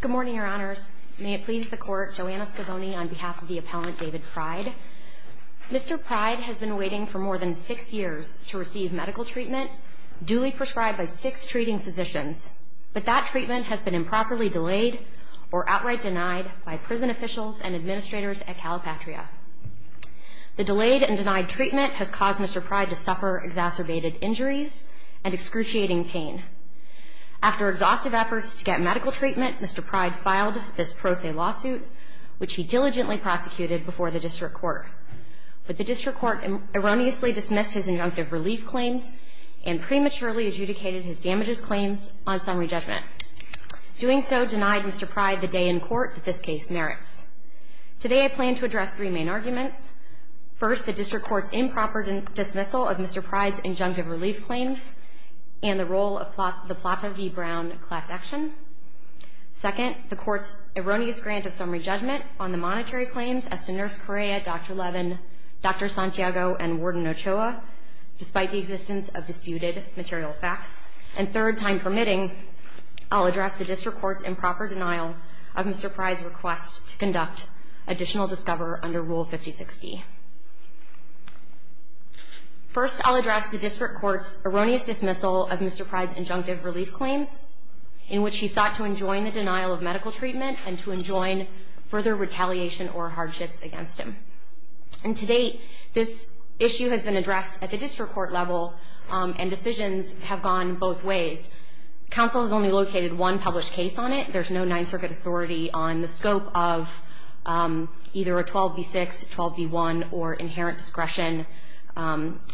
Good morning, Your Honors. May it please the Court, Joanna Scavoni on behalf of the appellant David Pride. Mr. Pride has been waiting for more than six years to receive medical treatment duly prescribed by six treating physicians, but that treatment has been improperly delayed or outright denied by prison officials and administrators at Calipatria. The delayed and denied treatment has caused Mr. Pride to suffer exacerbated injuries and excruciating pain. After exhaustive efforts to get medical treatment, Mr. Pride filed this pro se lawsuit, which he diligently prosecuted before the District Court. But the District Court erroneously dismissed his injunctive relief claims and prematurely adjudicated his damages claims on summary judgment. Doing so denied Mr. Pride the day in court that this case merits. Today I plan to address three main arguments. First, the District Court's improper dismissal of Mr. Pride's injunctive relief claims and the role of the Plata v. Brown class action. Second, the Court's erroneous grant of summary judgment on the monetary claims as to Nurse Correa, Dr. Levin, Dr. Santiago, and Warden Ochoa, despite the existence of disputed material facts. And third, time permitting, I'll address the District Court's improper denial of Mr. Pride's request to conduct additional discover under Rule 5060. First, I'll address the District Court's erroneous dismissal of Mr. Pride's injunctive relief claims in which he sought to enjoin the denial of medical treatment and to enjoin further retaliation or hardships against him. And to date, this issue has been addressed at the District Court level, and decisions have gone both ways. Counsel has only located one published case on it. There's no Ninth Circuit authority on the scope of either a 12b6, 12b1, or inherent discretion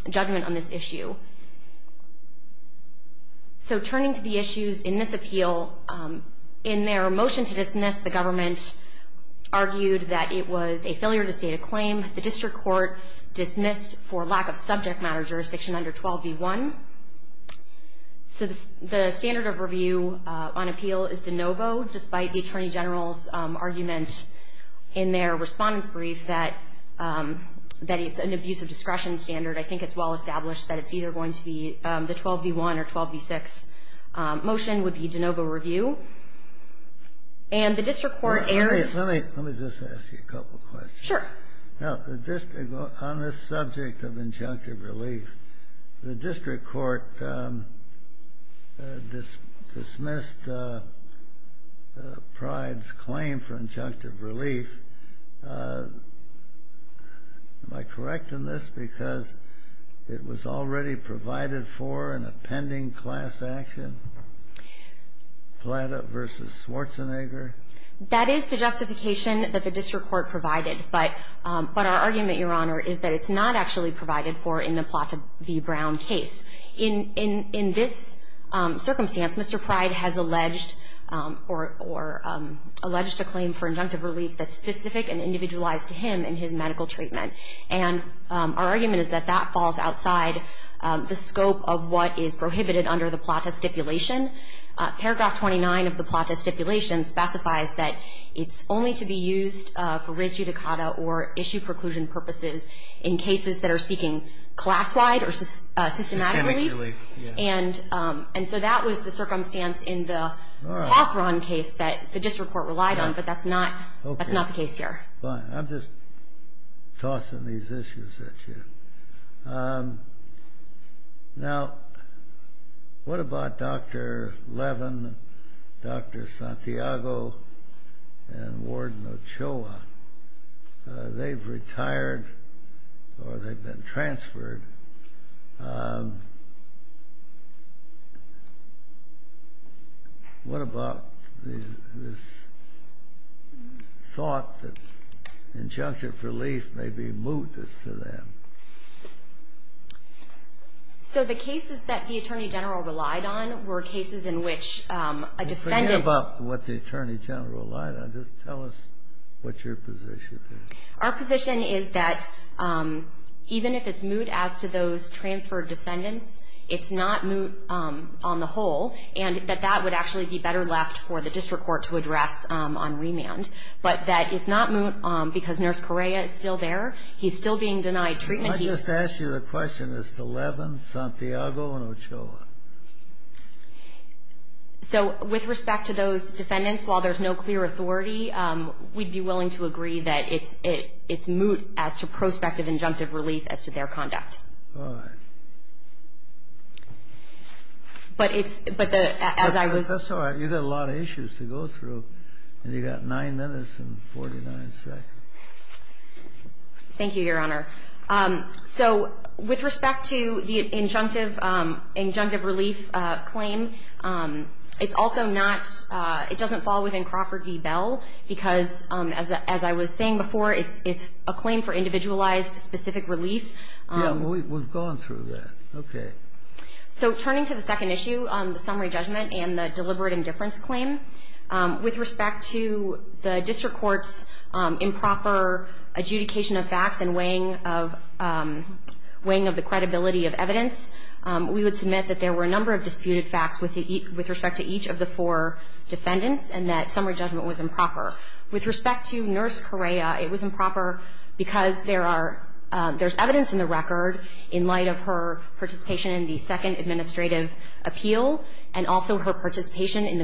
judgment on this issue. So turning to the issues in this appeal, in their motion to dismiss, the government argued that it was a failure to state a claim. The District Court dismissed for lack of subject matter jurisdiction under 12b1. So the standard of review on appeal is de novo, despite the Attorney General's argument in their respondent's brief that it's an abuse of discretion standard. I think it's well established that it's either going to be the 12b1 or 12b6 motion would be de novo review. And the District Court erred. Let me just ask you a couple questions. Sure. On this subject of injunctive relief, the District Court dismissed Pride's claim for injunctive relief. Am I correct in this? Because it was already provided for in a pending class action, Plata v. Schwarzenegger? That is the justification that the District Court provided. But our argument, Your Honor, is that it's not actually provided for in the Plata v. Brown case. In this circumstance, Mr. Pride has alleged or alleged a claim for injunctive relief that's specific and individualized to him in his medical treatment. And our argument is that that falls outside the scope of what is prohibited under the Plata stipulation. Paragraph 29 of the Plata stipulation specifies that it's only to be used for res judicata or issue preclusion purposes in cases that are seeking class-wide or systematic relief. And so that was the circumstance in the District Court relied on, but that's not the case here. Fine. I'm just tossing these issues at you. Now, what about Dr. Levin, Dr. Santiago, and Warden Ochoa? They've retired or they've been transferred. What about this thought that injunctive relief may be moot as to them? So the cases that the Attorney General relied on were cases in which a defendant Well, forget about what the Attorney General relied on. Just tell us what your position is. Our position is that even if it's moot as to those transferred defendants, it's not moot on the whole, and that that would actually be better left for the District Court to address on remand. But that it's not moot because Nurse Correa is still there. He's still being denied treatment. I just asked you the question. Is it Levin, Santiago, and Ochoa? So with respect to those defendants, while there's no clear authority, we'd be willing to agree that it's moot as to prospective injunctive relief as to their conduct. That's all right. You've got a lot of issues to go through, and you've got nine minutes and 49 seconds. Thank you, Your Honor. So with respect to the injunctive relief claim, it's also not It doesn't fall within Crawford v. Bell, because, as I was saying before, it's a claim for individualized, specific relief. Yeah. Well, we've gone through that. Okay. So turning to the second issue, the summary judgment and the deliberate indifference claim, with respect to the District Court's improper adjudication of facts and weighing of the credibility of evidence, we would submit that there were a number of disputed facts with respect to each of the four defendants, and that summary judgment was improper. With respect to Nurse Correa, it was improper because there's evidence in the record in light of her participation in the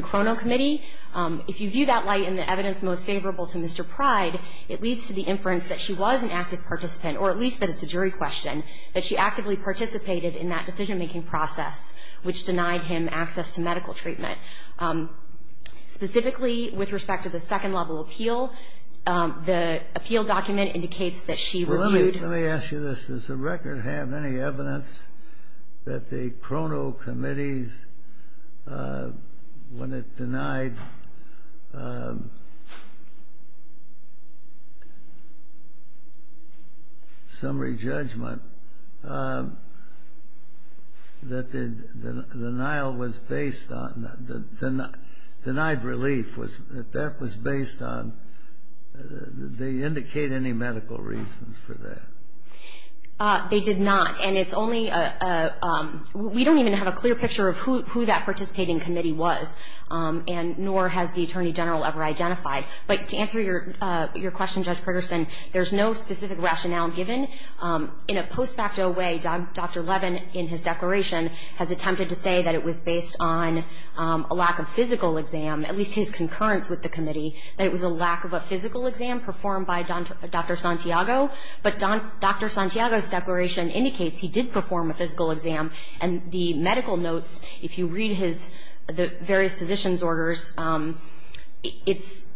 Crono Committee. If you view that light in the evidence most favorable to Mr. Pryde, it leads to the inference that she was an active participant, or at least that it's a jury question, that she actively participated in that decision-making process, which denied him access to medical treatment. Specifically, with respect to the second-level appeal, the appeal document indicates that she reviewed Well, let me ask you this. Does the record have any evidence that the Crono Committee's when it denied summary judgment, that the denial was based on denied relief, that that was based on, did they indicate any medical reasons for that? They did not. And it's only a clear picture of who that participating committee was, and nor has the Attorney General ever identified. But to answer your question, Judge Progerson, there's no specific rationale given. In a post facto way, Dr. Levin, in his declaration, has attempted to say that it was based on a lack of physical exam, at least his concurrence with the committee, that it was a lack of a physical exam performed by Dr. Santiago. But Dr. Santiago's declaration indicates he did perform a physical exam, and the medical notes, if you read his various physician's orders, it's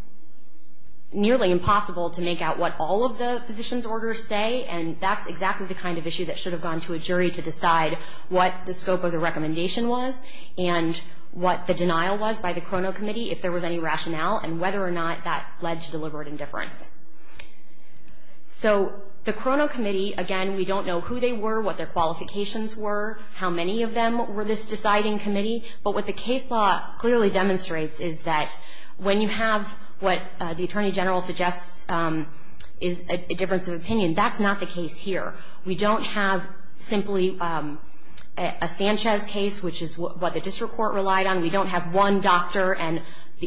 nearly impossible to make out what all of the physician's orders say, and that's exactly the kind of issue that should have gone to a jury to decide what the scope of the recommendation was, and what the denial was by the Crono Committee, if there was any rationale, and whether or not that led to deliberate indifference. So the Crono Committee, again, we don't know who they were, what their qualifications were, how many of them were this deciding committee, but what the case law clearly demonstrates is that when you have what the Attorney General suggests is a difference of opinion, that's not the case here. We don't have simply a Sanchez case, which is what the district court relied on. We don't have one doctor and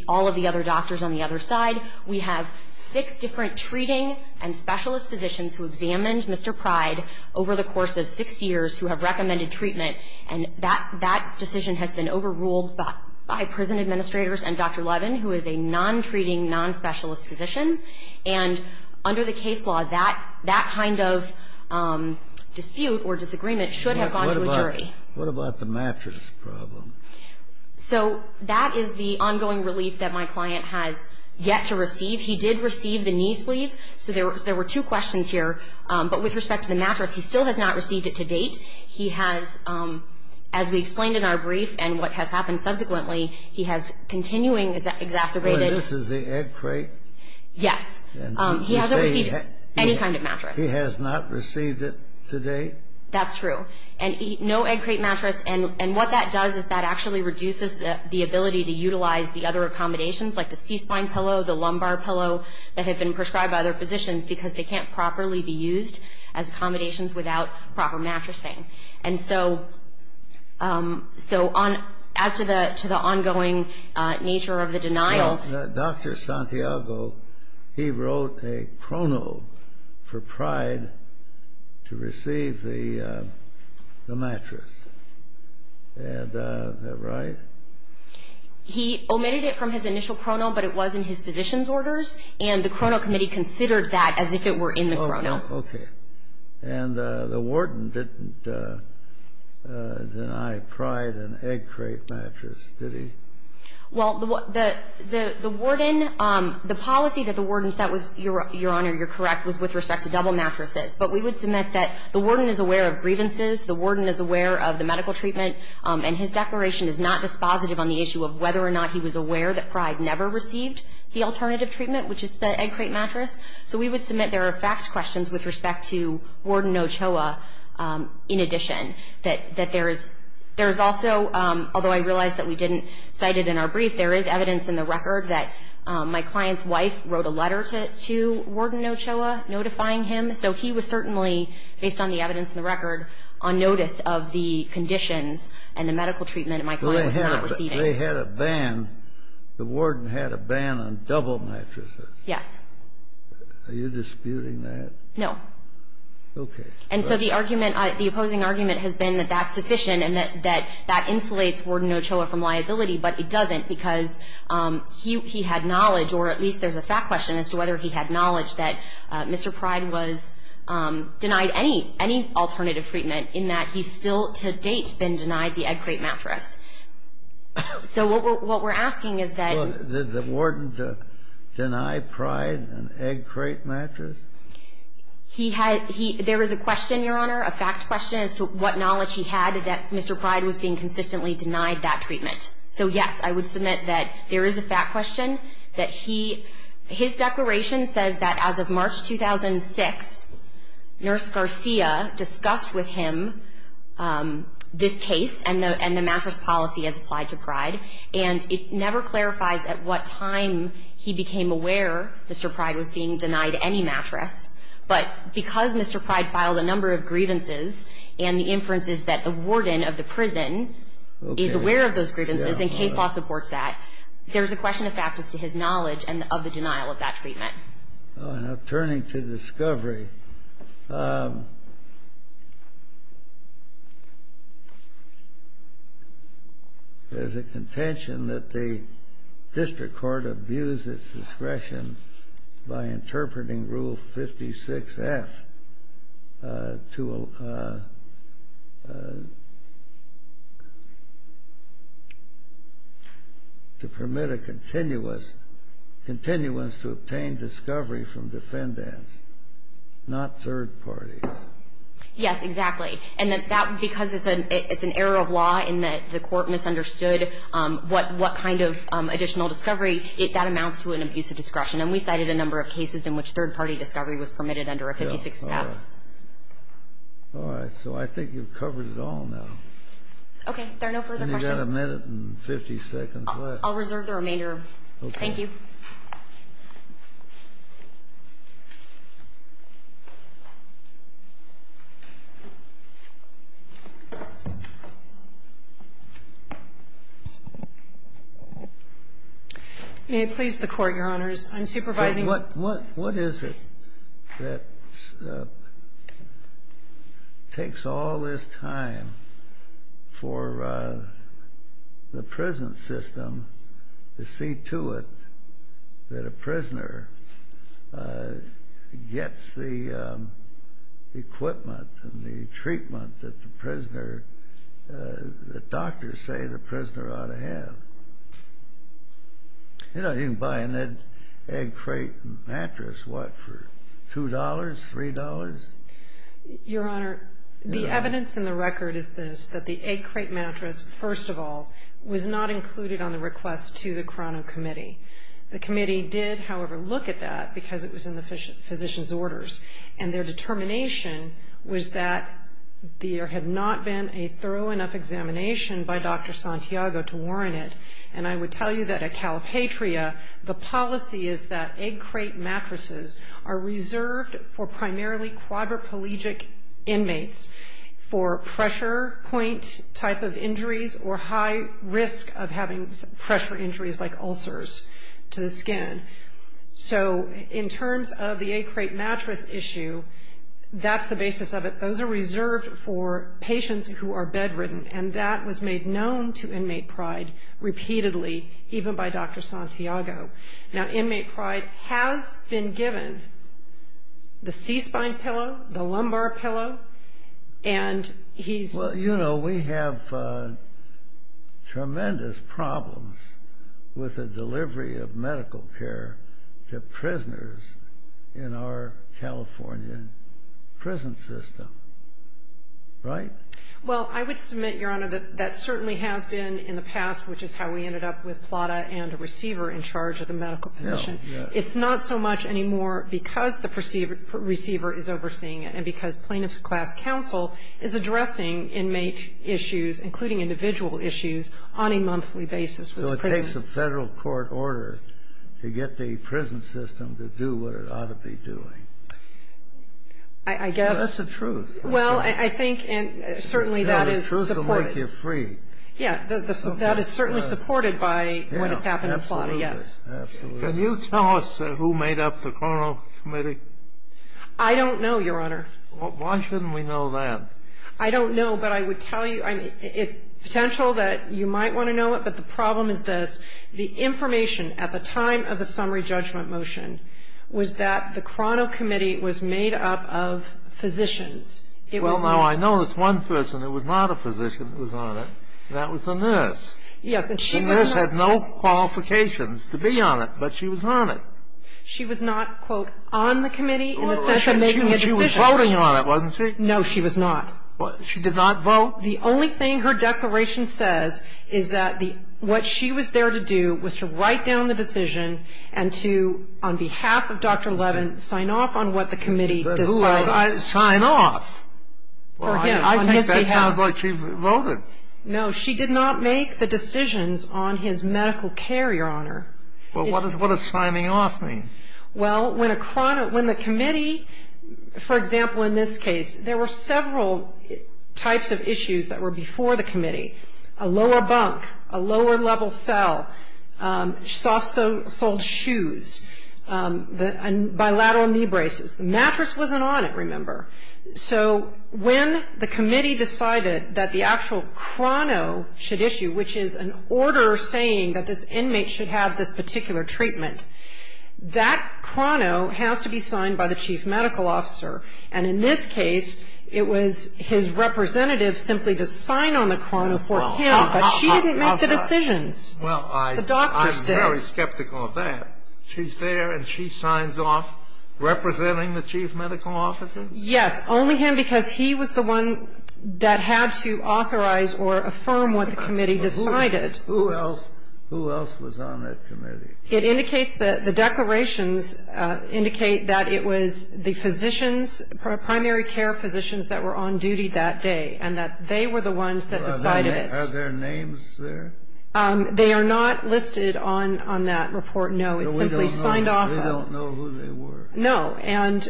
all of the other side. We have six different treating and specialist physicians who examined Mr. Pryde over the course of six years who have recommended treatment, and that decision has been overruled by prison administrators and Dr. Levin, who is a non-treating, non-specialist physician. And under the case law, that kind of dispute or disagreement should have gone to a jury. Kennedy. What about the mattress problem? So that is the ongoing relief that my client has yet to receive. He did receive the knee sleeve, so there were two questions here. But with respect to the mattress, he still has not received it to date. He has, as we explained in our brief and what has happened subsequently, he has continuing exacerbated. This is the egg crate? Yes. He hasn't received any kind of mattress. He has not received it to date? That's true. And no egg crate mattress. And what that does is that actually reduces the ability to utilize the other accommodations, like the C-spine pillow, the lumbar pillow, that had been prescribed by other physicians, because they can't properly be used as accommodations without proper mattressing. And so as to the ongoing nature of the denial. Dr. Santiago, he wrote a chrono for Pryde to receive the mattress. Is that right? He omitted it from his initial chrono, but it was in his physician's orders. And the chrono committee considered that as if it were in the chrono. Okay. And the warden didn't deny Pryde an egg crate mattress, did he? Well, the warden, the policy that the warden set was, Your Honor, you're correct, was with respect to double mattresses. But we would submit that the warden is aware of grievances, the warden is aware of the medical treatment, and his declaration is not dispositive on the issue of whether or not he was aware that Pryde never received the alternative treatment, which is the egg crate mattress. So we would submit there are fact questions with respect to warden Ochoa, in addition, that there is also, although I realize that we didn't cite it in our brief, there is evidence in the record that my client's wife wrote a letter to warden Ochoa notifying him. So he was certainly, based on the evidence in the record, on notice of the conditions and the medical treatment my client was not receiving. They had a ban, the warden had a ban on double mattresses. Yes. Are you disputing that? No. Okay. And so the argument, the opposing argument has been that that's sufficient and that that insulates warden Ochoa from liability, but it doesn't because he had knowledge, or at least there's a fact question as to whether he had knowledge, that Mr. Pryde was denied any alternative treatment in that he's still to date been denied the egg crate mattress. So what we're asking is that the warden denied Pryde an egg crate mattress? He had he there was a question, Your Honor, a fact question as to what knowledge he had that Mr. Pryde was being consistently denied that treatment. So, yes, I would submit that there is a fact question that he, his declaration says that as of March 2006, Nurse Garcia discussed with him this case and the mattress policy as applied to Pryde, and it never clarifies at what time he became aware Mr. Pryde was being denied any mattress. But because Mr. Pryde filed a number of grievances and the inference is that the warden of the prison is aware of those grievances and case law supports that, there is a question of fact as to his knowledge of the denial of that treatment. Now, turning to discovery, there's a contention that the district court abused its discretion by interpreting Rule 56-F to permit a continuous to obtain discovery from defendants, not third parties. Yes, exactly. And because it's an error of law in that the court misunderstood what kind of additional discovery, that amounts to an abuse of discretion. And we cited a number of cases in which third-party discovery was permitted under a 56-F. All right. So I think you've covered it all now. Okay. There are no further questions. And you've got a minute and 50 seconds left. I'll reserve the remainder. Okay. Thank you. May it please the Court, Your Honors. I'm supervising. What is it that takes all this time for the prison system to see to it that a prisoner gets the equipment and the treatment that the prisoner, the doctors say the prisoner ought to have? You know, you can buy an egg crate mattress, what, for $2, $3? Your Honor, the evidence in the record is this, that the egg crate mattress, first of all, was not included on the request to the Crano Committee. The committee did, however, look at that because it was in the physician's orders. And their determination was that there had not been a thorough enough examination by Dr. Santiago to warrant it. And I would tell you that at Calipatria, the policy is that egg crate mattresses are reserved for primarily quadriplegic inmates for pressure point type of injuries or high risk of having pressure injuries like ulcers to the skin. So in terms of the egg crate mattress issue, that's the basis of it. Those are reserved for patients who are bedridden. And that was made known to Inmate Pride repeatedly, even by Dr. Santiago. Now, Inmate Pride has been given the C-spine pillow, the lumbar pillow, and he's Well, you know, we have tremendous problems with the delivery of medical care to prisoners in our California prison system. Right? Well, I would submit, Your Honor, that that certainly has been in the past, which is how we ended up with Plata and a receiver in charge of the medical position. It's not so much anymore because the receiver is overseeing it and because Plaintiff's Class Counsel is addressing inmate issues, including individual issues, on a monthly basis. It takes a Federal court order to get the prison system to do what it ought to be doing. I guess That's the truth. Well, I think certainly that is supported. The truth will make you free. Yeah. That is certainly supported by what has happened in Plata, yes. Absolutely. Can you tell us who made up the Crono Committee? I don't know, Your Honor. Why shouldn't we know that? I don't know, but I would tell you. It's potential that you might want to know it, but the problem is this. The information at the time of the summary judgment motion was that the Crono Committee was made up of physicians. Well, now, I know this one person who was not a physician that was on it, and that was a nurse. Yes, and she was not The nurse had no qualifications to be on it, but she was on it. She was not, quote, on the committee in the sense of making a decision. She was voting on it, wasn't she? No, she was not. She did not vote? The only thing her declaration says is that what she was there to do was to write down the decision and to, on behalf of Dr. Levin, sign off on what the committee decided. Sign off? I think that sounds like she voted. No, she did not make the decisions on his medical care, Your Honor. Well, what does signing off mean? Well, when the committee, for example, in this case, there were several types of issues that were before the committee, a lower bunk, a lower-level cell, soft-soled shoes, bilateral knee braces. The mattress wasn't on it, remember. So when the committee decided that the actual Crono should issue, which is an order saying that this inmate should have this particular treatment, that Crono has to be signed by the chief medical officer. And in this case, it was his representative simply to sign on the Crono for him, but she didn't make the decisions. Well, I'm very skeptical of that. She's there and she signs off representing the chief medical officer? Yes, only him because he was the one that had to authorize or affirm what the committee decided. Who else was on that committee? It indicates that the declarations indicate that it was the physicians, primary care physicians that were on duty that day and that they were the ones that decided it. Are there names there? They are not listed on that report, no. It's simply signed off. They don't know who they were. No. And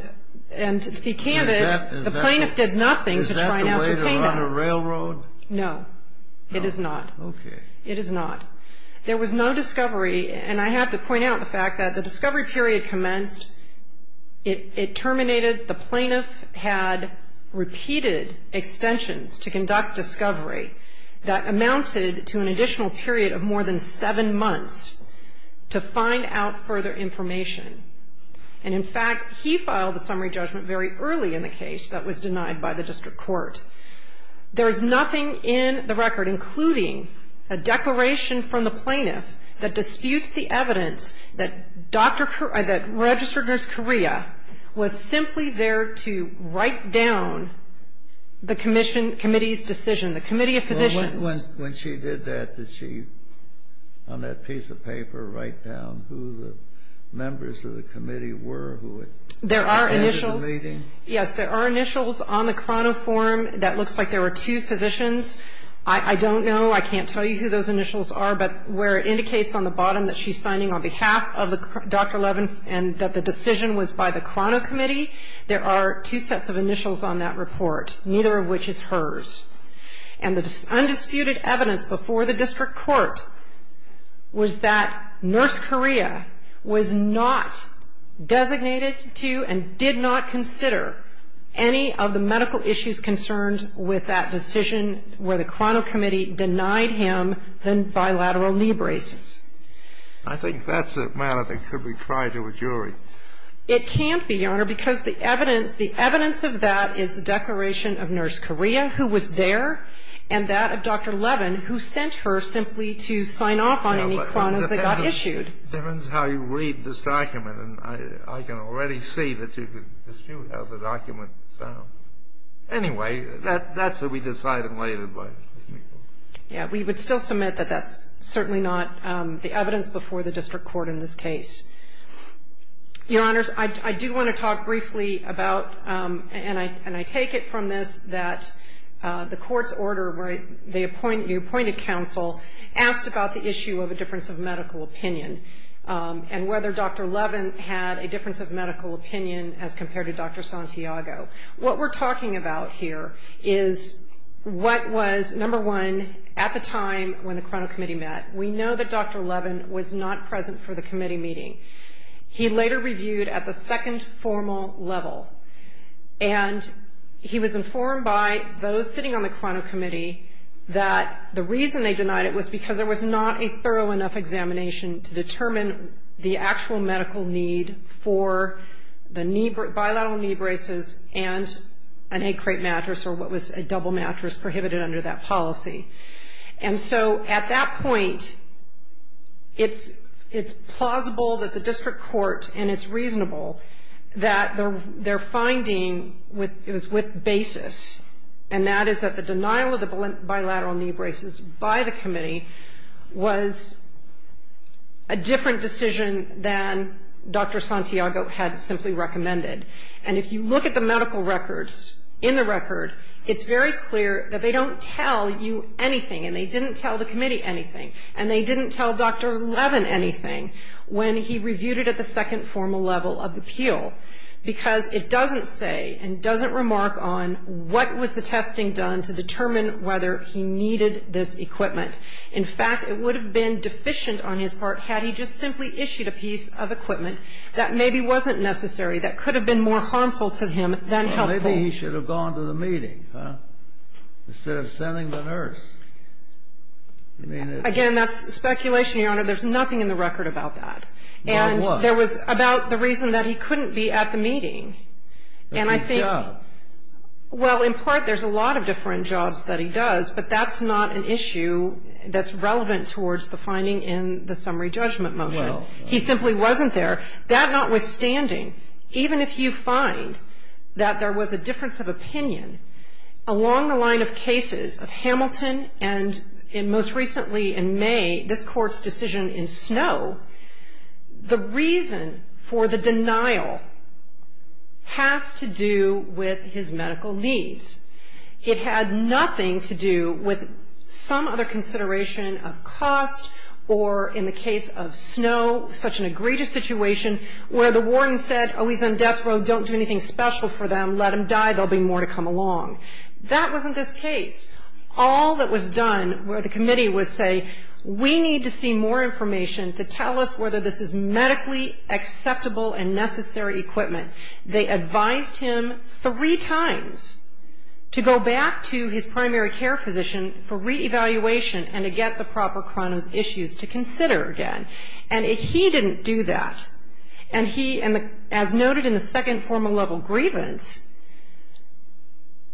to be candid, the plaintiff did nothing to try and ascertain that. Is that the way to run a railroad? No, it is not. Okay. It is not. There was no discovery, and I have to point out the fact that the discovery period commenced, it terminated, the plaintiff had repeated extensions to conduct discovery that amounted to an additional period of more than seven months to find out further information. And, in fact, he filed a summary judgment very early in the case that was denied by the district court. There is nothing in the record, including a declaration from the plaintiff that disputes the evidence that registered nurse Correa was simply there to write down the committee's decision, the committee of physicians. When she did that, did she, on that piece of paper, write down who the members of the committee were who had led the meeting? Yes, there are initials on the chrono form that looks like there were two physicians. I don't know, I can't tell you who those initials are, but where it indicates on the bottom that she's signing on behalf of Dr. Levin and that the decision was by the chrono committee, there are two sets of initials on that report, neither of which is hers. And the undisputed evidence before the district court was that nurse Correa was not designated to and did not consider any of the medical issues concerned with that decision where the chrono committee denied him the bilateral knee braces. I think that's a matter that could be tried to a jury. It can't be, Your Honor, because the evidence of that is the declaration of nurse Correa, who was there, and that of Dr. Levin, who sent her simply to sign off on any chronos that got issued. The difference is how you read this document, and I can already see that you could dispute how the document sounds. Anyway, that's what we decided later. Yeah. We would still submit that that's certainly not the evidence before the district court in this case. Your Honors, I do want to talk briefly about, and I take it from this, that the court's order where you appointed counsel asked about the issue of a difference of medical opinion and whether Dr. Levin had a difference of medical opinion as compared to Dr. Santiago. What we're talking about here is what was, number one, at the time when the chrono committee met. We know that Dr. Levin was not present for the committee meeting. He later reviewed at the second formal level, and he was informed by those sitting on the chrono committee that the reason they determined the actual medical need for the bilateral knee braces and an egg crate mattress, or what was a double mattress, prohibited under that policy. And so at that point, it's plausible that the district court, and it's reasonable, that their finding was with basis, and that is that the denial of the bilateral knee braces by the committee was a different decision than Dr. Santiago had simply recommended. And if you look at the medical records in the record, it's very clear that they don't tell you anything, and they didn't tell the committee anything, and they didn't tell Dr. Levin anything when he reviewed it at the second formal level of the appeal, because it doesn't say, and doesn't remark on what was the testing done to determine whether he needed this equipment. In fact, it would have been deficient on his part had he just simply issued a piece of equipment that maybe wasn't necessary, that could have been more harmful to him than helpful. Maybe he should have gone to the meeting instead of sending the nurse. Again, that's speculation, Your Honor. There's nothing in the record about that. And there was about the reason that he couldn't be at the meeting. And I think, well, in part, there's a lot of different jobs that he does, but that's not an issue that's relevant towards the finding in the summary judgment motion. He simply wasn't there. That notwithstanding, even if you find that there was a difference of opinion, along the line of cases of Hamilton and most recently in May, this Court's decision in Snow, the reason for the denial has to do with his medical needs. It had nothing to do with some other consideration of cost or, in the case of Snow, such an egregious situation where the warden said, oh, he's on death row. Don't do anything special for them. Let him die. There'll be more to come along. That wasn't this case. All that was done where the committee would say, we need to see more information to tell us whether this is medically acceptable and necessary equipment. They advised him three times to go back to his primary care physician for reevaluation and to get the proper chronos issues to consider again. And he didn't do that. And he, as noted in the second formal level grievance,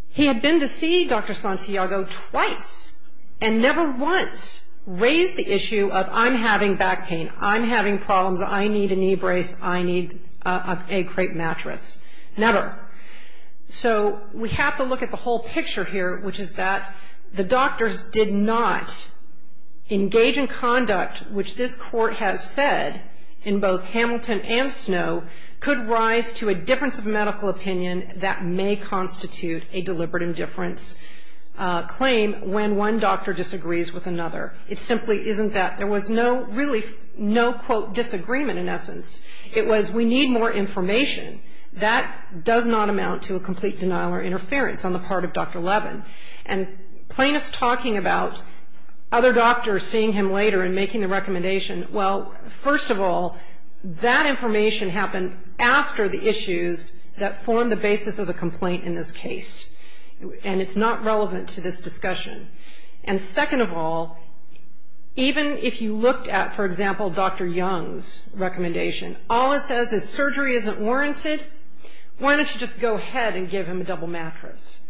he had been to see Dr. Santiago twice and never once raised the issue of, I'm having back pain. I'm having problems. I need a knee brace. I need a crepe mattress. Never. So we have to look at the whole picture here, which is that the doctors did not engage in conduct, which this Court has said in both Hamilton and Snow, could rise to a difference of medical opinion that may constitute a deliberate indifference claim when one doctor disagrees with another. It simply isn't that. There was no, really no, quote, disagreement in essence. It was, we need more information. That does not amount to a complete denial or interference on the part of Dr. Levin. And plaintiffs talking about other doctors seeing him later and making the issues that form the basis of the complaint in this case. And it's not relevant to this discussion. And second of all, even if you looked at, for example, Dr. Young's recommendation, all it says is surgery isn't warranted. Why don't you just go ahead and give him a double mattress?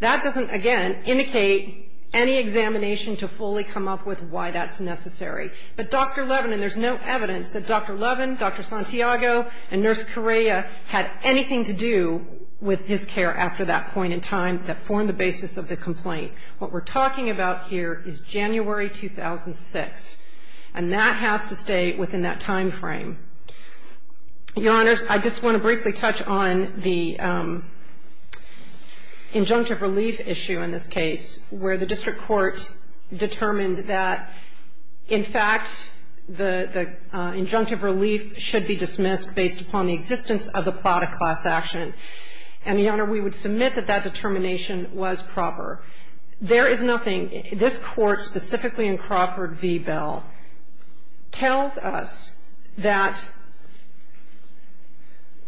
That doesn't, again, indicate any examination to fully come up with why that's necessary. But Dr. Levin, and there's no evidence that Dr. Levin, Dr. Santiago, and Nurse Correa had anything to do with his care after that point in time that formed the basis of the complaint. What we're talking about here is January 2006. And that has to stay within that time frame. Your Honors, I just want to briefly touch on the injunctive relief issue in this case. In fact, the injunctive relief should be dismissed based upon the existence of the plata class action. And, Your Honor, we would submit that that determination was proper. There is nothing, this Court, specifically in Crawford v. Bell, tells us that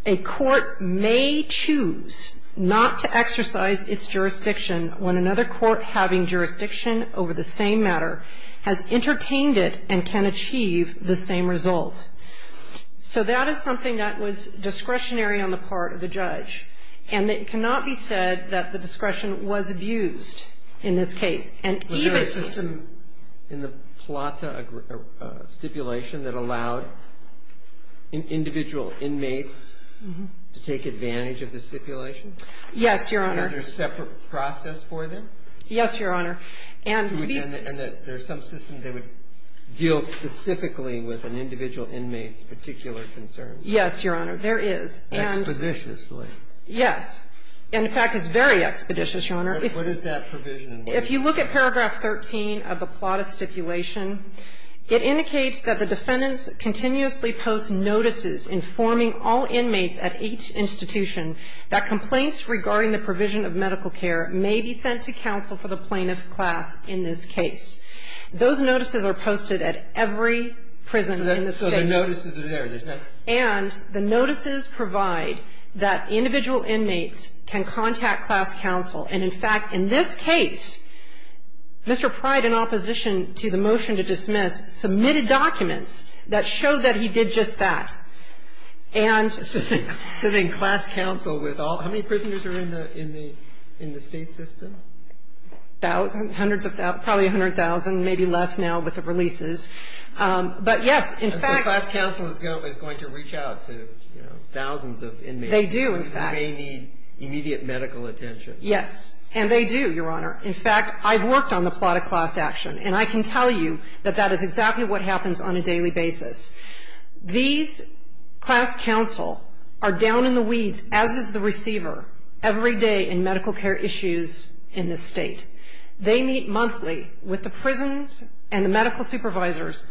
a court may choose not to exercise its jurisdiction when another court having jurisdiction over the same matter has entertained it and can achieve the same result. So that is something that was discretionary on the part of the judge. And it cannot be said that the discretion was abused in this case. And even the system in the plata stipulation that allowed individual inmates to take advantage of the stipulation? Yes, Your Honor. Was there a separate process for them? Yes, Your Honor. And to be ---- And that there's some system that would deal specifically with an individual inmate's particular concerns? Yes, Your Honor. There is. Expeditiously? Yes. And, in fact, it's very expeditious, Your Honor. What is that provision? If you look at paragraph 13 of the plata stipulation, it indicates that the defendants continuously post notices informing all inmates at each institution that complaints regarding the provision of medical care may be sent to counsel for the plaintiff class in this case. Those notices are posted at every prison in the State. So the notices are there. There's not ---- And the notices provide that individual inmates can contact class counsel. And, in fact, in this case, Mr. Pryde, in opposition to the motion to dismiss, submitted documents that showed that he did just that. And ---- So then class counsel with all ---- how many prisoners are in the State system? Thousands. Hundreds of ---- probably 100,000, maybe less now with the releases. But, yes, in fact ---- So class counsel is going to reach out to, you know, thousands of inmates. They do, in fact. Who may need immediate medical attention. Yes. And they do, Your Honor. In fact, I've worked on the plata class action. And I can tell you that that is exactly what happens on a daily basis. These class counsel are down in the weeds, as is the receiver, every day in medical care issues in this State. They meet monthly with the prisons and the medical supervisors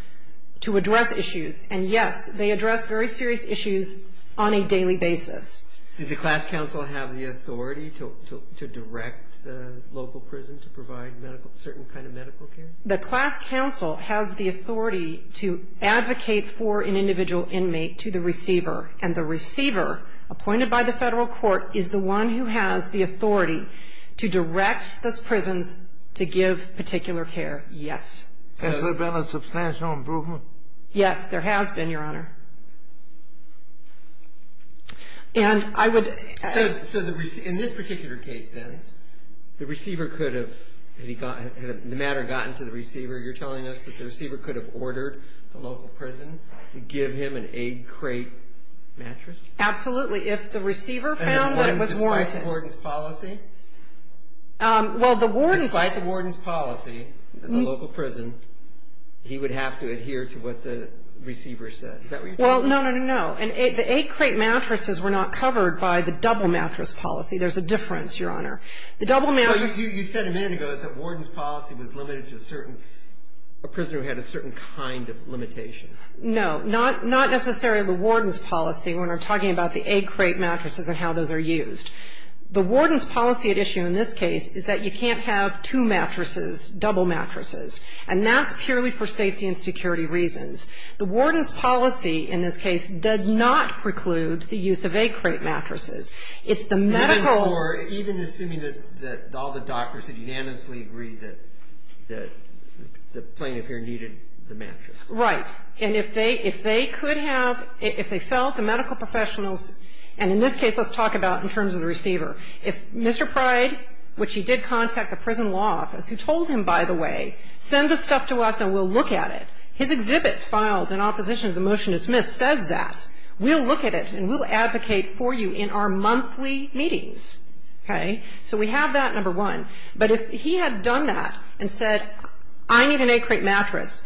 to address issues. And, yes, they address very serious issues on a daily basis. Did the class counsel have the authority to direct the local prison to provide medical ---- certain kind of medical care? The class counsel has the authority to advocate for an individual inmate to the receiver. And the receiver, appointed by the federal court, is the one who has the authority to direct those prisons to give particular care. Yes. Has there been a substantial improvement? Yes. There has been, Your Honor. And I would ---- So in this particular case, then, the receiver could have ---- had the matter gotten to the receiver, you're telling us that the receiver could have ordered the local prison to give him an egg crate mattress? Absolutely. If the receiver found that it was warranted. Despite the warden's policy? Well, the warden's ---- Despite the warden's policy at the local prison, he would have to adhere to what the receiver said. Is that what you're telling me? Well, no, no, no, no. And the egg crate mattresses were not covered by the double mattress policy. There's a difference, Your Honor. The double mattress ---- So you said a minute ago that the warden's policy was limited to a certain ---- a prisoner who had a certain kind of limitation. No. Not necessarily the warden's policy when we're talking about the egg crate mattresses and how those are used. The warden's policy at issue in this case is that you can't have two mattresses, double mattresses. And that's purely for safety and security reasons. The warden's policy in this case did not preclude the use of egg crate mattresses. It's the medical ---- Even for ---- even assuming that all the doctors had unanimously agreed that the plaintiff here needed the mattress. Right. And if they could have ---- if they felt the medical professionals ---- and in this case, let's talk about in terms of the receiver. If Mr. Pryde, which he did contact the prison law office, who told him, by the way, send the stuff to us and we'll look at it. His exhibit filed in opposition to the motion dismissed says that. We'll look at it and we'll advocate for you in our monthly meetings. Okay. So we have that, number one. But if he had done that and said, I need an egg crate mattress,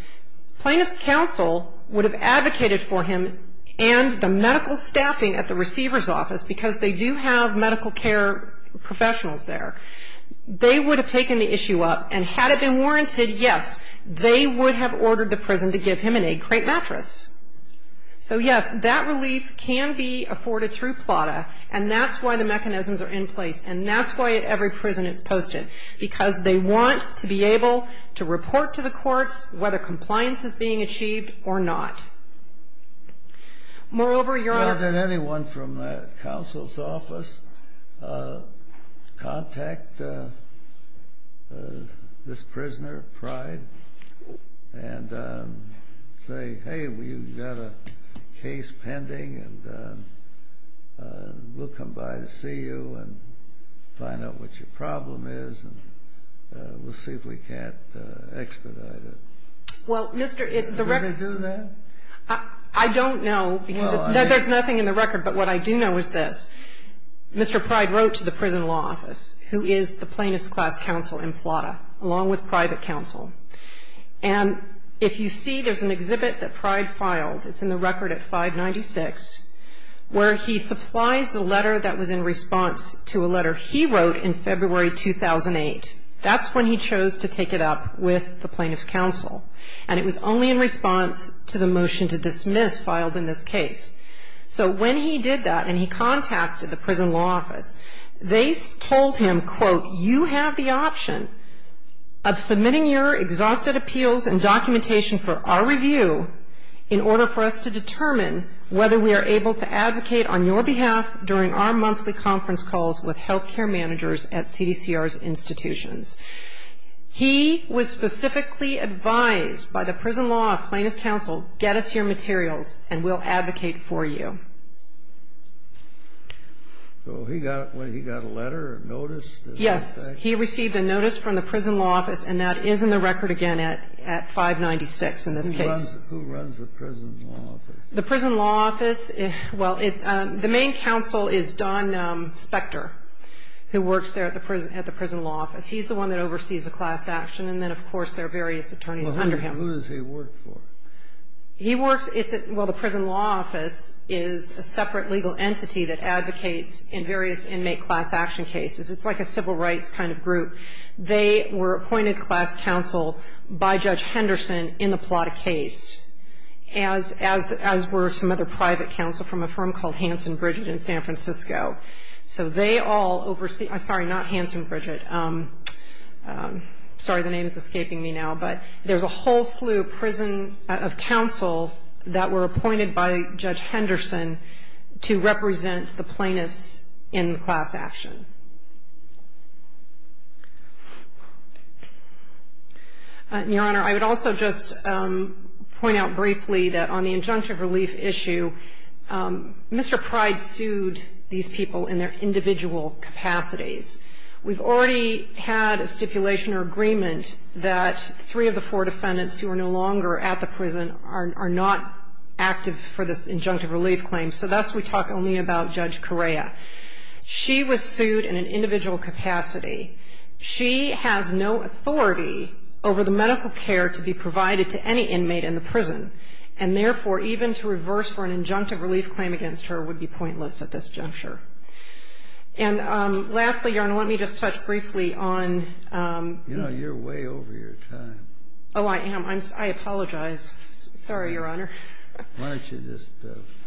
plaintiff's counsel would have advocated for him and the medical staffing at the receiver's office, because they do have medical care professionals there. They would have taken the issue up. And had it been warranted, yes, they would have ordered the prison to give him an egg crate mattress. So, yes, that relief can be afforded through PLATA. And that's why the mechanisms are in place. And that's why at every prison it's posted, because they want to be able to report to the courts whether compliance is being achieved or not. Moreover, Your Honor ---- Why did anyone from counsel's office contact this prisoner of pride and say, hey, we've got a case pending and we'll come by to see you and find out what your problem is and we'll see if we can't expedite it? Well, Mr. ---- Did they do that? I don't know, because there's nothing in the record. But what I do know is this. Mr. Pride wrote to the prison law office, who is the plaintiff's class counsel in PLATA, along with private counsel. And if you see, there's an exhibit that Pride filed. It's in the record at 596, where he supplies the letter that was in response to a letter he wrote in February 2008. That's when he chose to take it up with the plaintiff's counsel. And it was only in response to the motion to dismiss filed in this case. So when he did that and he contacted the prison law office, they told him, quote, you have the option of submitting your exhausted appeals and documentation for our review in order for us to determine whether we are able to advocate on your behalf during our monthly conference calls with health care managers at CDCR's institutions. He was specifically advised by the prison law plaintiff's counsel, get us your materials and we'll advocate for you. So he got a letter, a notice? Yes. He received a notice from the prison law office, and that is in the record again at 596 in this case. Who runs the prison law office? The prison law office, well, the main counsel is Don Spector, who works there at the prison law office. He's the one that oversees the class action. And then, of course, there are various attorneys under him. Well, who does he work for? He works at the prison law office. It's a separate legal entity that advocates in various inmate class action cases. It's like a civil rights kind of group. They were appointed class counsel by Judge Henderson in the Plata case, as were some other private counsel from a firm called Hanson Bridget in San Francisco. So they all oversee, sorry, not Hanson Bridget. Sorry, the name is escaping me now. But there's a whole slew of prison counsel that were appointed by Judge Henderson to represent the plaintiffs in class action. Your Honor, I would also just point out briefly that on the injunctive relief issue, Mr. Pryde sued these people in their individual capacities. We've already had a stipulation or agreement that three of the four defendants who are no longer at the prison are not active for this injunctive relief claim, so thus we talk only about Judge Correa. She was sued in an individual capacity. She has no authority over the medical care to be provided to any inmate in the prison, and therefore, even to reverse for an injunctive relief claim against her would be pointless at this juncture. And lastly, Your Honor, let me just touch briefly on the other things. You know, you're way over your time. Oh, I am. I apologize. Sorry, Your Honor. Why don't you just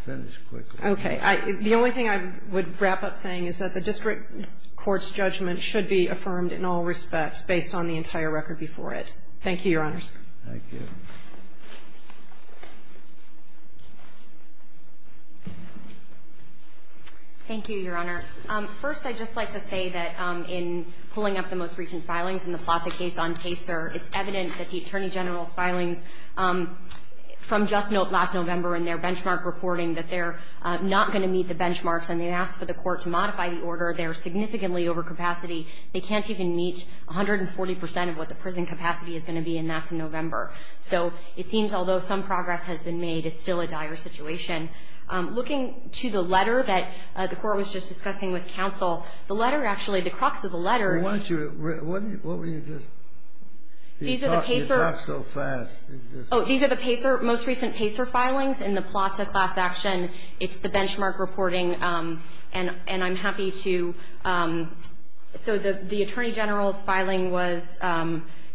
finish quickly? Okay. The only thing I would wrap up saying is that the district court's judgment should be affirmed in all respects based on the entire record before it. Thank you, Your Honors. Thank you. Thank you, Your Honor. First, I'd just like to say that in pulling up the most recent filings in the Plaza case on Kaser, it's evident that the Attorney General's filings from just last November in their benchmark reporting that they're not going to meet the benchmarks, and they asked for the court to modify the order. They're significantly overcapacity. They can't even meet 140 percent of what the prison capacity is going to be, and that's in November. So it seems, although some progress has been made, it's still a dire situation. Looking to the letter that the court was just discussing with counsel, the letter actually, the crux of the letter. Why don't you read it? What were you just talking about so fast? Oh, these are the most recent Kaser filings in the Plaza class action. It's the benchmark reporting. And I'm happy to. So the Attorney General's filing was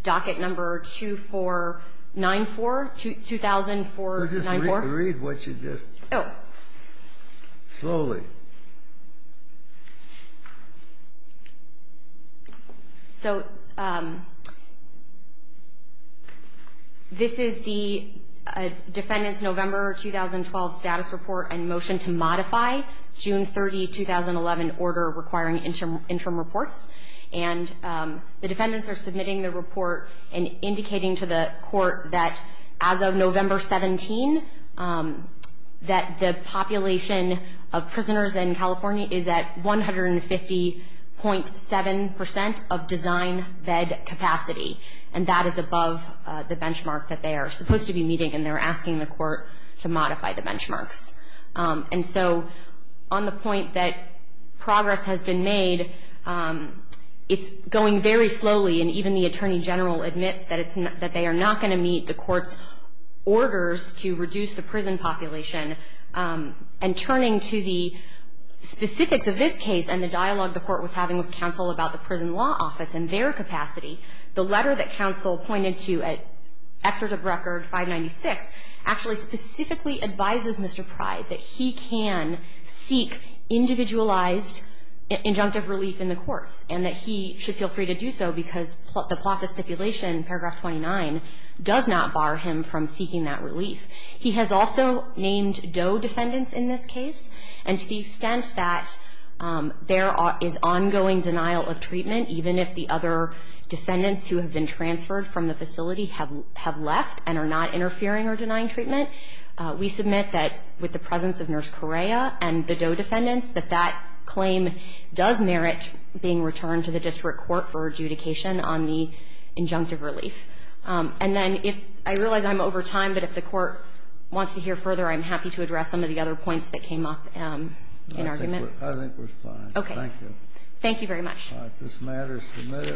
docket number 2494, 2004-94. So just read what you just. Oh. Slowly. So this is the defendant's November 2012 status report and motion to modify June 30, 2011 order requiring interim reports. And the defendants are submitting the report and indicating to the court that as of November 17, that the population of prisoners in California is at 150.7 percent of design bed capacity. And that is above the benchmark that they are supposed to be meeting, and they're asking the court to modify the benchmarks. And so on the point that progress has been made, it's going very slowly, and even the Attorney General admits that they are not going to meet the court's orders to reduce the prison population. And turning to the specifics of this case and the dialogue the court was having with counsel about the prison law office and their capacity, the letter that counsel pointed to at Excerpt of Record 596 actually specifically advises Mr. Pryde that he can seek individualized injunctive relief in the courts, and that he should feel free to do so because the Plata stipulation, paragraph 29, does not bar him from seeking that relief. He has also named Doe defendants in this case, and to the extent that there is ongoing denial of treatment, even if the other defendants who have been transferred from the facility have left and are not interfering or denying treatment, we submit that with the presence of Nurse Correa and the Doe defendants, that that claim does merit being returned to the district court for adjudication on the injunctive relief. And then if I realize I'm over time, but if the court wants to hear further, I'm happy to address some of the other points that came up in argument. I think we're fine. Okay. Thank you. Thank you very much. This matter is submitted.